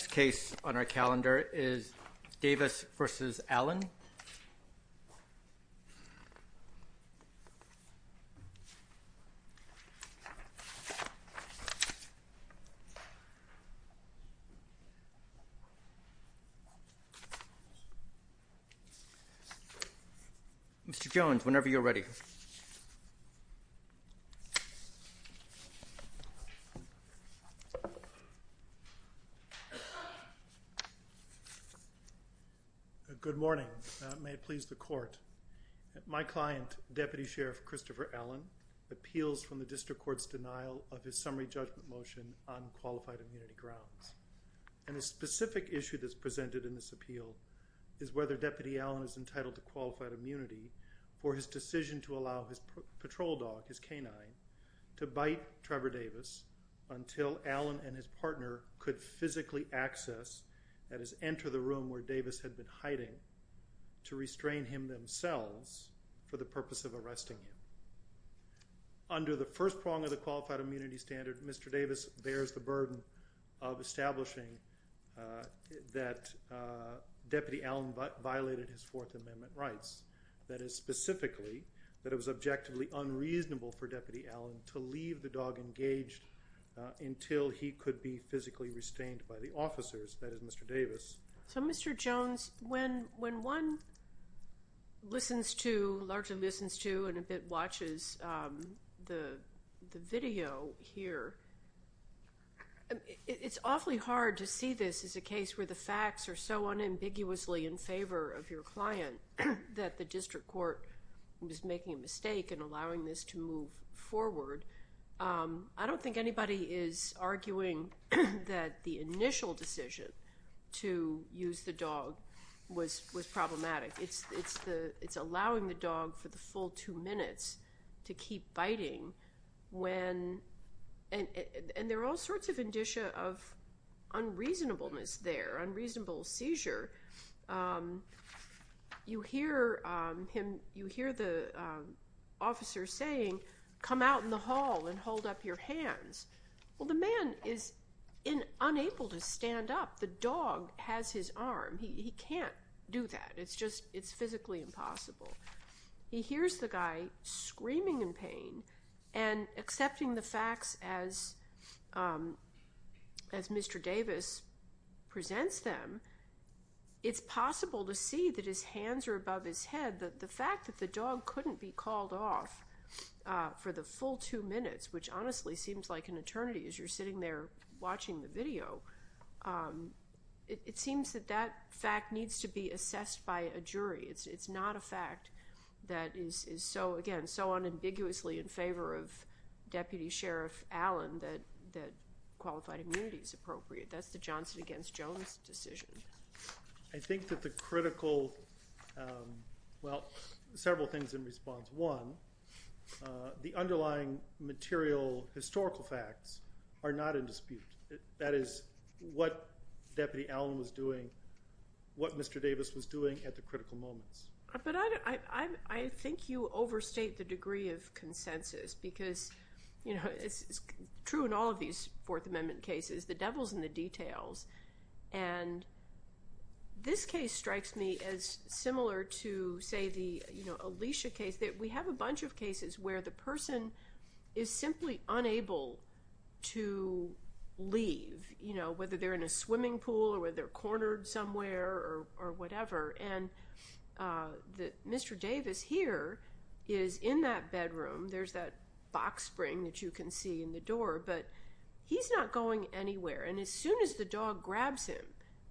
Next case on our calendar is Davis v. Allen. Mr. Jones, whenever you're ready. Good morning. May it please the court. My client, Deputy Sheriff Christopher Allen, appeals from the District Court's denial of his summary judgment motion on qualified immunity grounds. And a specific issue that's presented in this appeal is whether Deputy Allen is entitled to qualified immunity for his decision to allow his patrol dog, his canine, to bite Trevor Davis until Allen and his partner could physically access, that is, enter the room where Davis had been hiding, to restrain him themselves for the purpose of arresting him. Under the first prong of the qualified immunity standard, Mr. Davis bears the burden of establishing that Deputy Allen violated his Fourth Amendment rights. That is, specifically, that it was objectively unreasonable for Deputy Allen to leave the dog engaged until he could be physically restrained by the officers, that is, Mr. Davis. So, Mr. Jones, when one listens to, largely listens to, and a bit watches the video here, it's awfully hard to see this as a case where the facts are so unambiguously in favor of your client that the District Court was making a mistake in allowing this to move forward. I don't think anybody is arguing that the initial decision to use the dog was problematic. It's allowing the dog for the full two minutes to keep biting when, and there are all sorts of indicia of unreasonableness there, unreasonable seizure. You hear him, you hear the officer saying, come out in the hall and hold up your hands. Well, the man is unable to stand up. The dog has his arm. He can't do that. It's just, it's physically impossible. He hears the guy screaming in pain and accepting the facts as Mr. Davis presents them, it's possible to see that his hands are above his head. The fact that the dog couldn't be called off for the full two minutes, which honestly seems like an eternity as you're sitting there watching the video, it seems that that fact needs to be assessed by a jury. It's not a fact that is, again, so unambiguously in favor of Deputy Sheriff Allen that qualified immunity is appropriate. That's the Johnson against Jones decision. I think that the critical, well, several things in response. One, the underlying material historical facts are not in dispute. That is what Deputy Allen was doing, what Mr. Davis was doing at the critical moments. But I think you overstate the degree of consensus because it's true in all of these Fourth Amendment cases. The devil's in the details. And this case strikes me as similar to, say, the Alicia case. We have a bunch of cases where the person is simply unable to leave, whether they're in a swimming pool or whether they're cornered somewhere or whatever. And Mr. Davis here is in that bedroom. There's that box spring that you can see in the door. But he's not going anywhere. And as soon as the dog grabs him,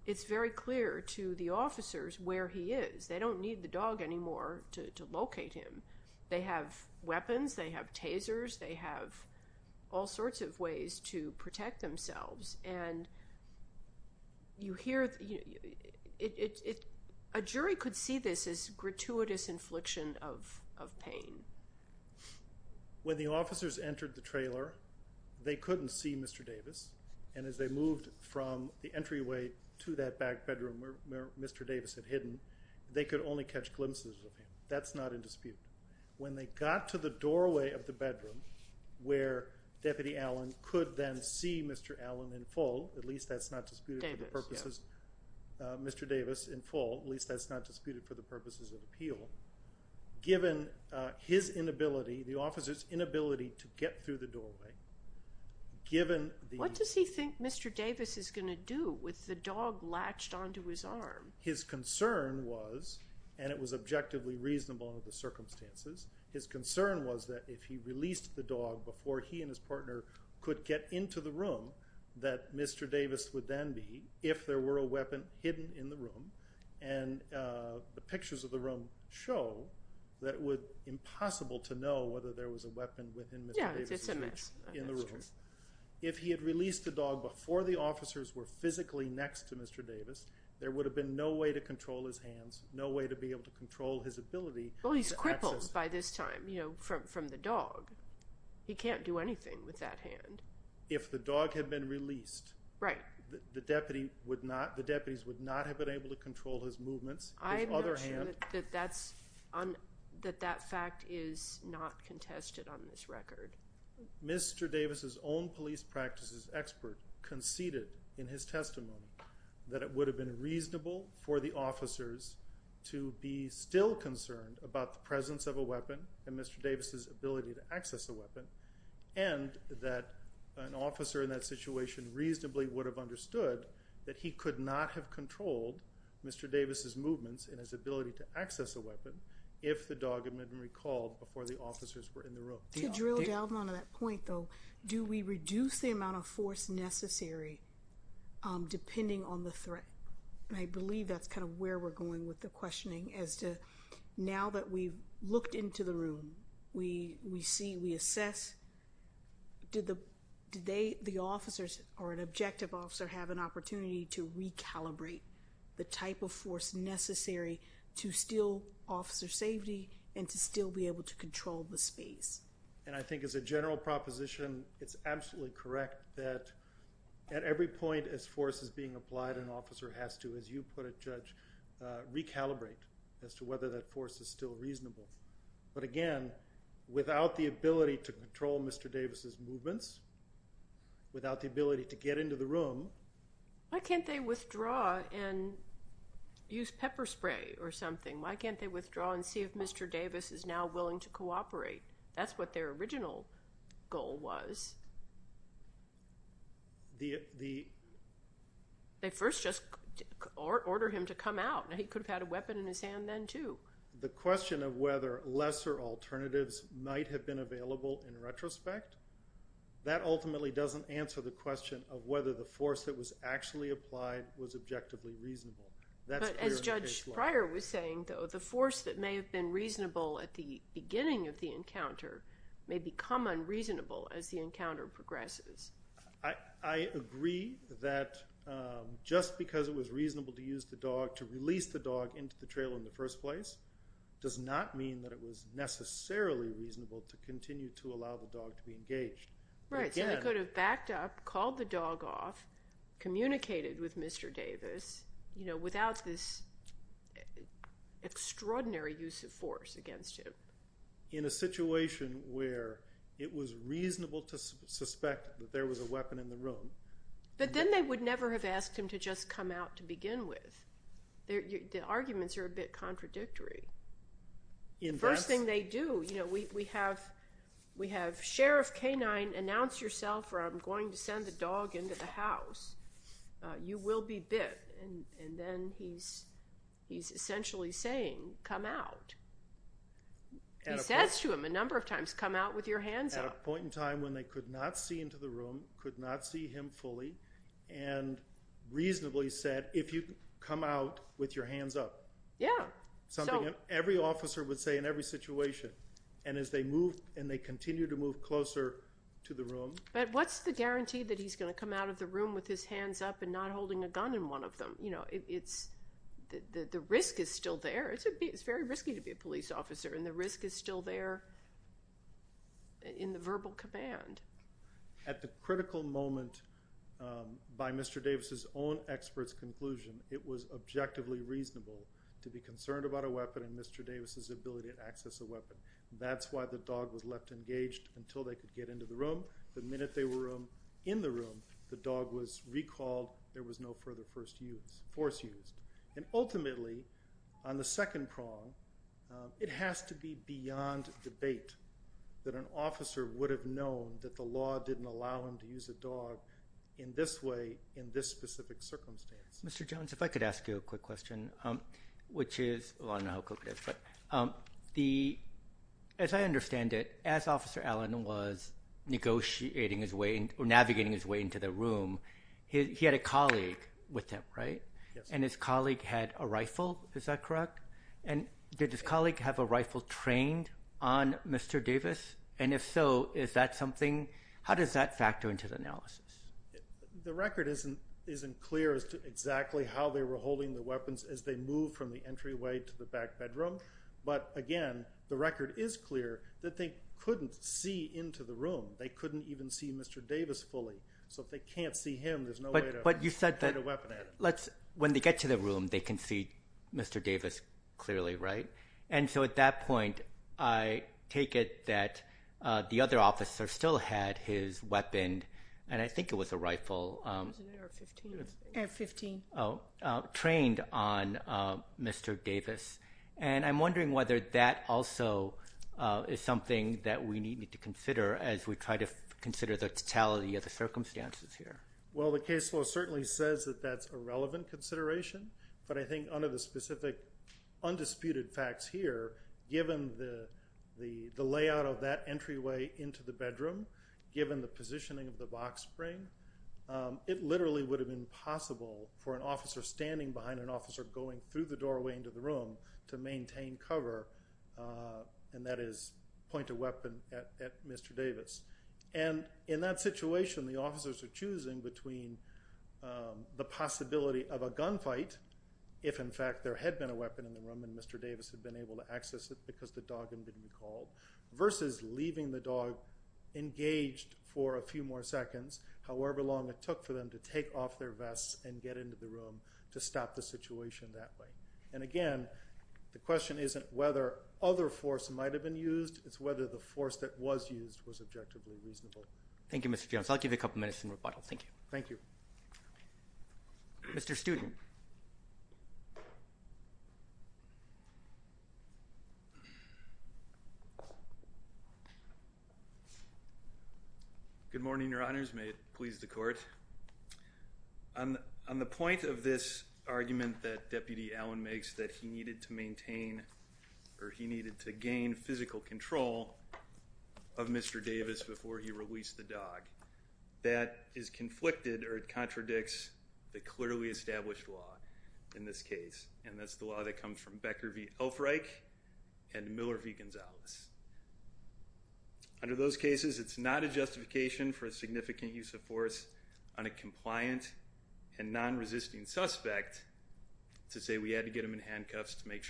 it's very clear to the officers where he is. They don't need the dog anymore to locate him. They have weapons. They have tasers. They have all sorts of ways to protect themselves. And you hear it. A jury could see this as gratuitous infliction of pain. When the officers entered the trailer, they couldn't see Mr. Davis. And as they moved from the entryway to that back bedroom where Mr. Davis had hidden, they could only catch glimpses of him. That's not in dispute. When they got to the doorway of the bedroom where Deputy Allen could then see Mr. Allen in full, at least that's not disputed for the purposes of appeal, given his inability, the officers' inability to get through the doorway, given the- What does he think Mr. Davis is going to do with the dog latched onto his arm? His concern was, and it was objectively reasonable under the circumstances, his concern was that if he released the dog before he and his partner could get into the room, that Mr. Davis would then be, if there were a weapon hidden in the room, and the pictures of the room show that it would be impossible to know whether there was a weapon within Mr. Davis' room. Yeah, it's a mess. That's true. If he had released the dog before the officers were physically next to Mr. Davis, there would have been no way to control his hands, no way to be able to control his ability to access- Well, he's crippled by this time, you know, from the dog. He can't do anything with that hand. If the dog had been released- Right. The deputies would not have been able to control his movements, his other hand- I'm not sure that that fact is not contested on this record. Mr. Davis' own police practices expert conceded in his testimony that it would have been reasonable for the officers to be still concerned about the presence of a weapon and Mr. Davis' ability to access a weapon, and that an officer in that situation reasonably would have understood that he could not have controlled Mr. Davis' movements and his ability to access a weapon if the dog had been recalled before the officers were in the room. To drill down on that point, though, do we reduce the amount of force necessary depending on the threat? I believe that's kind of where we're going with the questioning, as to now that we've looked into the room, we see, we assess, did the officers or an objective officer have an opportunity to recalibrate the type of force necessary to still officer safety and to still be able to control the space? And I think as a general proposition, it's absolutely correct that at every point as force is being applied, an officer has to, as you put it, Judge, recalibrate as to whether that force is still reasonable. But again, without the ability to control Mr. Davis' movements, without the ability to get into the room- Why can't they withdraw and use pepper spray or something? Why can't they withdraw and see if Mr. Davis is now willing to cooperate? That's what their original goal was. They first just order him to come out. He could have had a weapon in his hand then, too. The question of whether lesser alternatives might have been available in retrospect, that ultimately doesn't answer the question of whether the force that was actually applied was objectively reasonable. That's clear in the case law. But as Judge Pryor was saying, though, the force that may have been reasonable at the beginning of the encounter may become unreasonable as the encounter progresses. I agree that just because it was reasonable to use the dog, to release the dog into the trailer in the first place, does not mean that it was necessarily reasonable to continue to allow the dog to be engaged. Right, so they could have backed up, called the dog off, communicated with Mr. Davis, without this extraordinary use of force against him. In a situation where it was reasonable to suspect that there was a weapon in the room. But then they would never have asked him to just come out to begin with. The arguments are a bit contradictory. The first thing they do, you know, we have Sheriff Canine announce yourself, or I'm going to send the dog into the house. You will be bit. And then he's essentially saying, come out. He says to him a number of times, come out with your hands up. At a point in time when they could not see into the room, could not see him fully, and reasonably said, if you come out with your hands up. Yeah. Something every officer would say in every situation. And as they move, and they continue to move closer to the room. But what's the guarantee that he's going to come out of the room with his hands up and not holding a gun in one of them? You know, the risk is still there. It's very risky to be a police officer, and the risk is still there in the verbal command. At the critical moment, by Mr. Davis's own expert's conclusion, it was objectively reasonable to be concerned about a weapon and Mr. Davis's ability to access a weapon. That's why the dog was left engaged until they could get into the room. The minute they were in the room, the dog was recalled. There was no further force used. And ultimately, on the second prong, it has to be beyond debate that an officer would have known that the law didn't allow him to use a dog in this way, in this specific circumstance. Mr. Jones, if I could ask you a quick question, which is, well, I don't know how quick it is. As I understand it, as Officer Allen was navigating his way into the room, he had a colleague with him, right? Yes. And his colleague had a rifle, is that correct? And did his colleague have a rifle trained on Mr. Davis? And if so, is that something? How does that factor into the analysis? The record isn't clear as to exactly how they were holding the weapons as they moved from the entryway to the back bedroom. But, again, the record is clear that they couldn't see into the room. They couldn't even see Mr. Davis fully. So if they can't see him, there's no way to point a weapon at him. When they get to the room, they can see Mr. Davis clearly, right? And so at that point, I take it that the other officer still had his weapon, and I think it was a rifle, trained on Mr. Davis. And I'm wondering whether that also is something that we need to consider as we try to consider the totality of the circumstances here. Well, the case law certainly says that that's a relevant consideration. But I think under the specific undisputed facts here, given the layout of that entryway into the bedroom, given the positioning of the box spring, it literally would have been possible for an officer standing behind an officer going through the doorway into the room to maintain cover, and that is point a weapon at Mr. Davis. And in that situation, the officers are choosing between the possibility of a gunfight, if in fact there had been a weapon in the room and Mr. Davis had been able to access it because the dog had been recalled, versus leaving the dog engaged for a few more seconds, however long it took for them to take off their vests and get into the room to stop the situation that way. And, again, the question isn't whether other force might have been used. It's whether the force that was used was objectively reasonable. Thank you, Mr. Jones. I'll give you a couple minutes in rebuttal. Thank you. Thank you. Mr. Student. Good morning, Your Honors. May it please the Court. On the point of this argument that Deputy Allen makes that he needed to maintain or he needed to gain physical control of Mr. Davis before he released the dog, that is conflicted or it contradicts the clearly established law in this case, and that's the law that comes from Becker v. Ulfreich and Miller v. Gonzalez. Under those cases, it's not a justification for a significant use of force on a compliant and non-resisting suspect to say we had to get him in handcuffs to make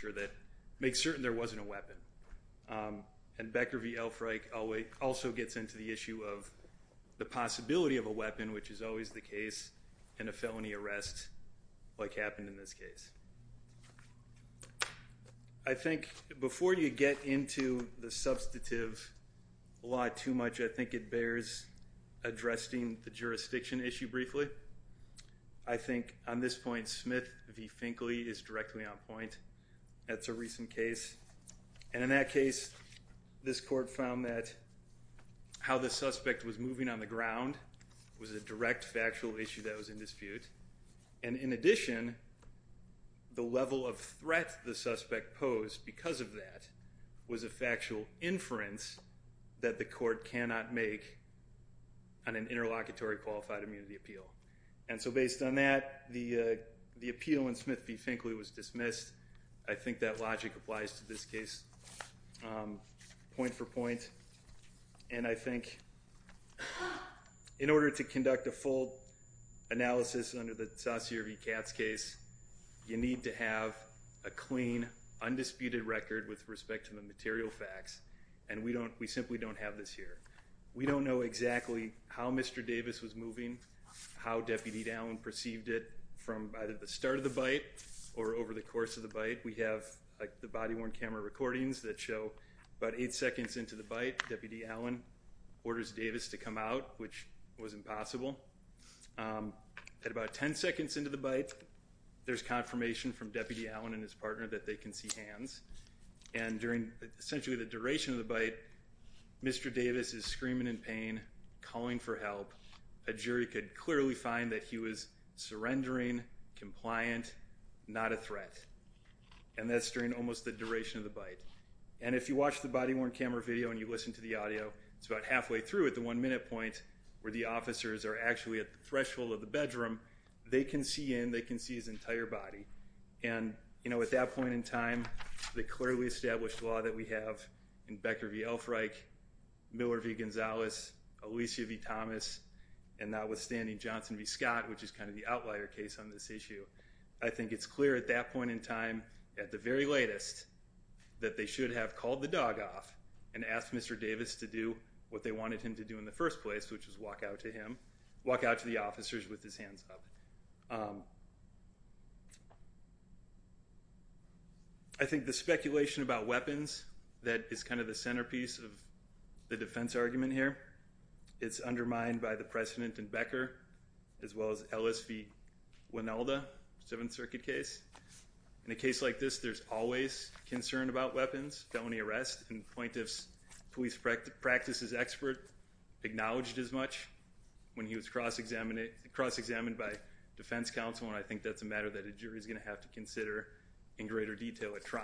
certain there wasn't a weapon. And Becker v. Ulfreich also gets into the issue of the possibility of a weapon, which is always the case in a felony arrest like happened in this case. I think before you get into the substantive law too much, I think it bears addressing the jurisdiction issue briefly. I think on this point, Smith v. Finkley is directly on point. That's a recent case, and in that case, this Court found that how the suspect was moving on the ground was a direct factual issue that was in dispute. And in addition, the level of threat the suspect posed because of that was a factual inference that the Court cannot make on an interlocutory qualified immunity appeal. And so based on that, the appeal in Smith v. Finkley was dismissed. I think that logic applies to this case point for point. And I think in order to conduct a full analysis under the Saucier v. Katz case, you need to have a clean, undisputed record with respect to the material facts, and we simply don't have this here. We don't know exactly how Mr. Davis was moving, how Deputy Allen perceived it from either the start of the bite or over the course of the bite. We have the body-worn camera recordings that show about eight seconds into the bite, Deputy Allen orders Davis to come out, which was impossible. At about ten seconds into the bite, there's confirmation from Deputy Allen and his partner that they can see hands, and during essentially the duration of the bite, Mr. Davis is screaming in pain, calling for help. A jury could clearly find that he was surrendering, compliant, not a threat, and that's during almost the duration of the bite. And if you watch the body-worn camera video and you listen to the audio, it's about halfway through at the one-minute point where the officers are actually at the threshold of the bedroom. They can see in. They can see his entire body. And, you know, at that point in time, the clearly established law that we have in Becker v. Elfreich, Miller v. Gonzalez, Alicia v. Thomas, and notwithstanding Johnson v. Scott, which is kind of the outlier case on this issue, I think it's clear at that point in time, at the very latest, that they should have called the dog off and asked Mr. Davis to do what they wanted him to do in the first place, which was walk out to him, walk out to the officers with his hands up. I think the speculation about weapons that is kind of the centerpiece of the defense argument here, it's undermined by the precedent in Becker as well as Ellis v. Winelda, Seventh Circuit case. In a case like this, there's always concern about weapons, felony arrest, and the plaintiff's police practices expert acknowledged as much when he was cross-examined by defense counsel, and I think that's a matter that a jury is going to have to consider in greater detail at trial.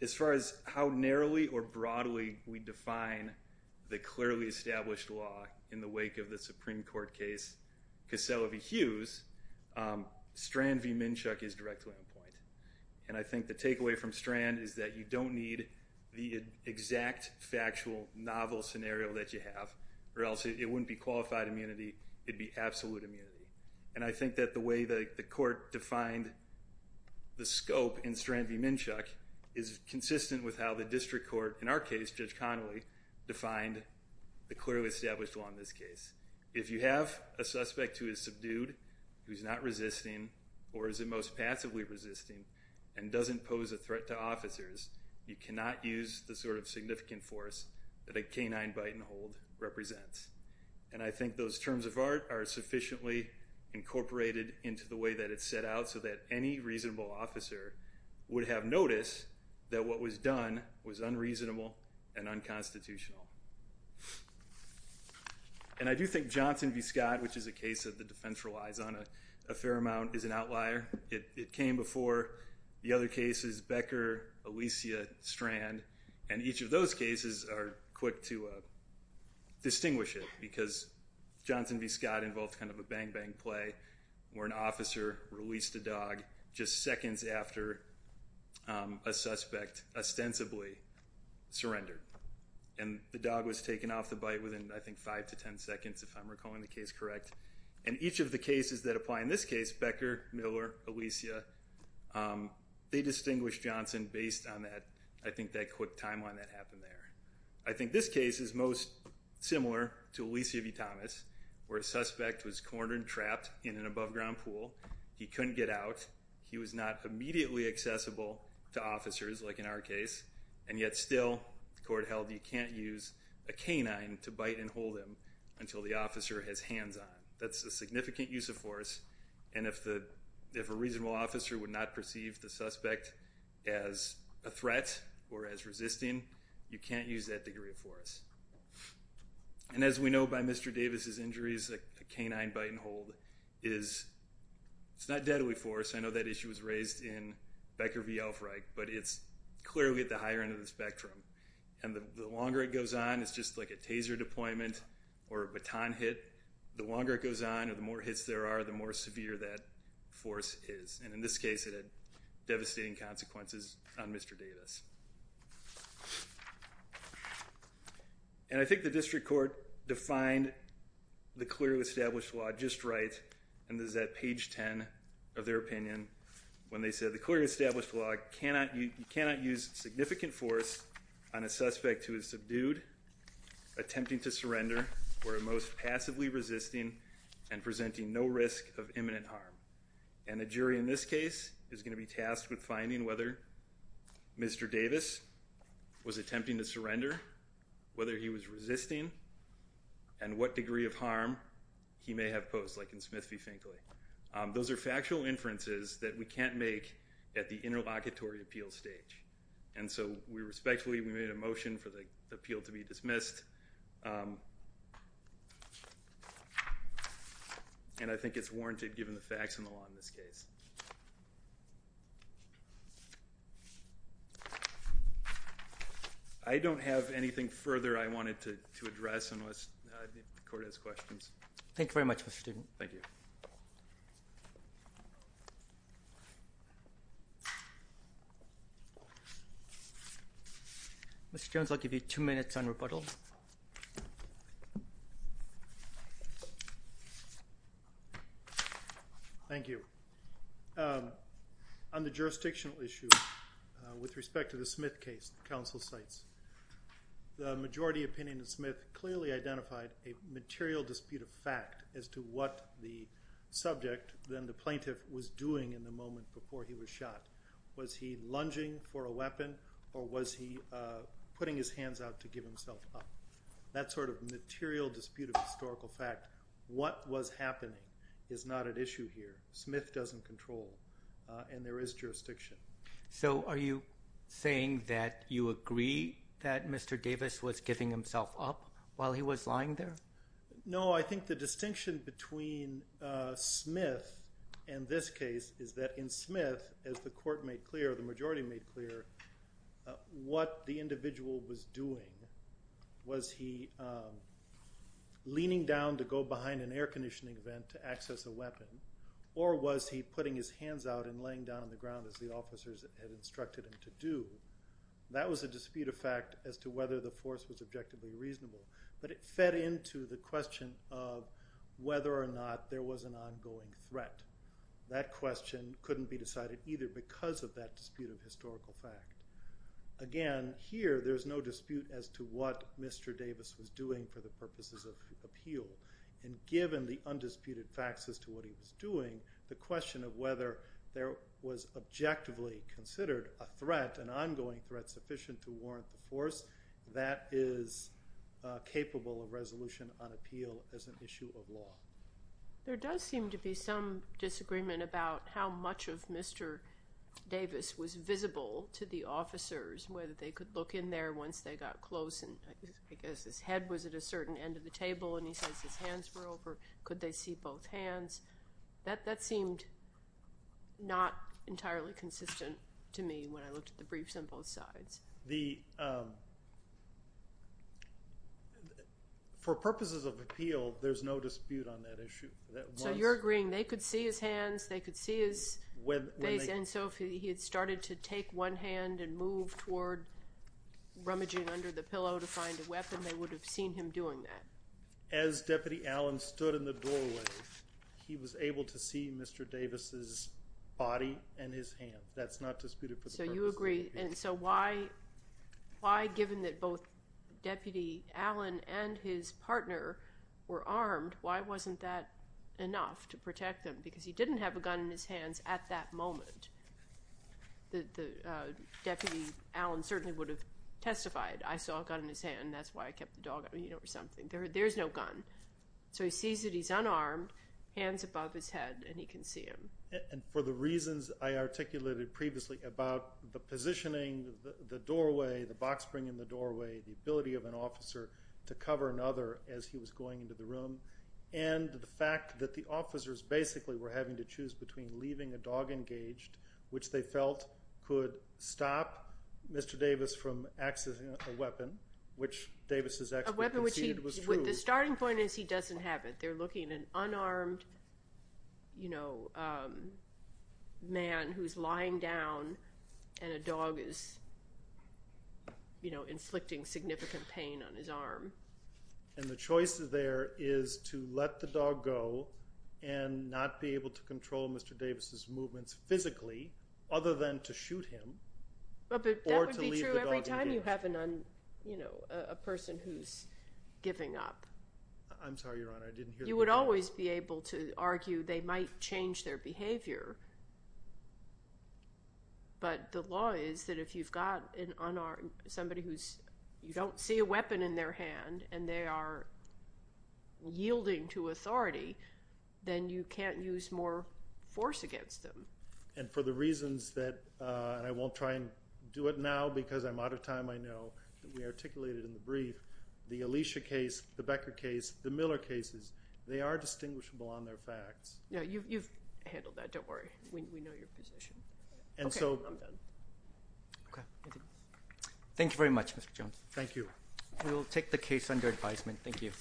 As far as how narrowly or broadly we define the clearly established law in the wake of the Supreme Court case Cassell v. Hughes, Strand v. Minshuk is directly on point. And I think the takeaway from Strand is that you don't need the exact, factual, novel scenario that you have, or else it wouldn't be qualified immunity, it'd be absolute immunity. And I think that the way the court defined the scope in Strand v. Minshuk is consistent with how the district court, in our case, Judge Connolly, defined the clearly established law in this case. If you have a suspect who is subdued, who's not resisting, or is at most passively resisting and doesn't pose a threat to officers, you cannot use the sort of significant force that a canine bite and hold represents. And I think those terms of art are sufficiently incorporated into the way that it's set out so that any reasonable officer would have noticed that what was done was unreasonable and unconstitutional. And I do think Johnson v. Scott, which is a case that the defense relies on a fair amount, is an outlier. It came before the other cases, Becker, Alicia, Strand, and each of those cases are quick to distinguish it because Johnson v. Scott involved kind of a bang-bang play where an officer released a dog just seconds after a suspect ostensibly surrendered. And the dog was taken off the bite within, I think, 5 to 10 seconds, if I'm recalling the case correct. And each of the cases that apply in this case, Becker, Miller, Alicia, they distinguish Johnson based on that, I think, that quick timeline that happened there. I think this case is most similar to Alicia v. Thomas where a suspect was cornered and trapped in an above-ground pool. He couldn't get out. He was not immediately accessible to officers like in our case, and yet still the court held you can't use a canine to bite and hold him until the officer has hands-on. That's a significant use of force, and if a reasonable officer would not perceive the suspect as a threat or as resisting, you can't use that degree of force. And as we know by Mr. Davis's injuries, a canine bite and hold is not deadly force. I know that issue was raised in Becker v. Elfreich, but it's clearly at the higher end of the spectrum. And the longer it goes on, it's just like a taser deployment or a baton hit. The longer it goes on or the more hits there are, the more severe that force is. And in this case, it had devastating consequences on Mr. Davis. And I think the district court defined the clearly established law just right, and this is at page 10 of their opinion, when they said the clearly established law cannot use significant force on a suspect who is subdued, attempting to surrender, or most passively resisting and presenting no risk of imminent harm. And the jury in this case is going to be tasked with finding whether Mr. Davis was attempting to surrender, whether he was resisting, and what degree of harm he may have posed, like in Smith v. Finkley. Those are factual inferences that we can't make at the interlocutory appeal stage. And so we respectfully made a motion for the appeal to be dismissed. And I think it's warranted given the facts in the law in this case. I don't have anything further I wanted to address unless the court has questions. Thank you very much, Mr. Student. Thank you. Mr. Jones, I'll give you two minutes on rebuttal. Thank you. On the jurisdictional issue, with respect to the Smith case the counsel cites, the majority opinion of Smith clearly identified a material dispute of fact as to what the subject, then the plaintiff, was doing in the moment before he was shot. Was he lunging for a weapon or was he putting his hands out to give himself up? That sort of material dispute of historical fact, what was happening, is not at issue here. Smith doesn't control, and there is jurisdiction. So are you saying that you agree that Mr. Davis was giving himself up while he was lying there? No, I think the distinction between Smith and this case is that in Smith, as the court made clear, the majority made clear, what the individual was doing, was he leaning down to go behind an air conditioning vent to access a weapon or was he putting his hands out and laying down on the ground as the officers had instructed him to do? That was a dispute of fact as to whether the force was objectively reasonable, but it fed into the question of whether or not there was an ongoing threat. That question couldn't be decided either because of that dispute of historical fact. Again, here there's no dispute as to what Mr. Davis was doing for the purposes of appeal, and given the undisputed facts as to what he was doing, the question of whether there was objectively considered a threat, an ongoing threat sufficient to warrant the force, that is capable of resolution on appeal as an issue of law. There does seem to be some disagreement about how much of Mr. Davis was visible to the officers, whether they could look in there once they got close and I guess his head was at a certain end of the table and he says his hands were over, could they see both hands? That seemed not entirely consistent to me when I looked at the briefs on both sides. For purposes of appeal, there's no dispute on that issue. So you're agreeing they could see his hands, they could see his face, and so if he had started to take one hand and move toward rummaging under the pillow to find a weapon, they would have seen him doing that? As Deputy Allen stood in the doorway, he was able to see Mr. Davis's body and his hands. That's not disputed for the purposes of appeal. So you agree, and so why, given that both Deputy Allen and his partner were armed, why wasn't that enough to protect them? Because he didn't have a gun in his hands at that moment. The Deputy Allen certainly would have testified, I saw a gun in his hand and that's why I kept the dog or something. There's no gun. So he sees that he's unarmed, hands above his head, and he can see him. And for the reasons I articulated previously about the positioning, the doorway, the box spring in the doorway, the ability of an officer to cover another as he was going into the room, and the fact that the officers basically were having to choose between leaving a dog engaged, which they felt could stop Mr. Davis from accessing a weapon, which Davis's expert conceded was true. The starting point is he doesn't have it. They're looking at an unarmed man who's lying down and a dog is inflicting significant pain on his arm. And the choice there is to let the dog go and not be able to control Mr. Davis's movements physically, other than to shoot him or to leave the dog engaged. But that would be true every time you have a person who's giving up. I'm sorry, Your Honor, I didn't hear the question. You would always be able to argue they might change their behavior. But the law is that if you've got somebody who's – you don't see a weapon in their hand and they are yielding to authority, then you can't use more force against them. And for the reasons that – and I won't try and do it now because I'm out of time, I know. We articulated in the brief the Alicia case, the Becker case, the Miller cases. They are distinguishable on their facts. You've handled that. Don't worry. We know your position. Okay. I'm done. Okay. Thank you very much, Mr. Jones. Thank you. We will take the case under advisement. Thank you.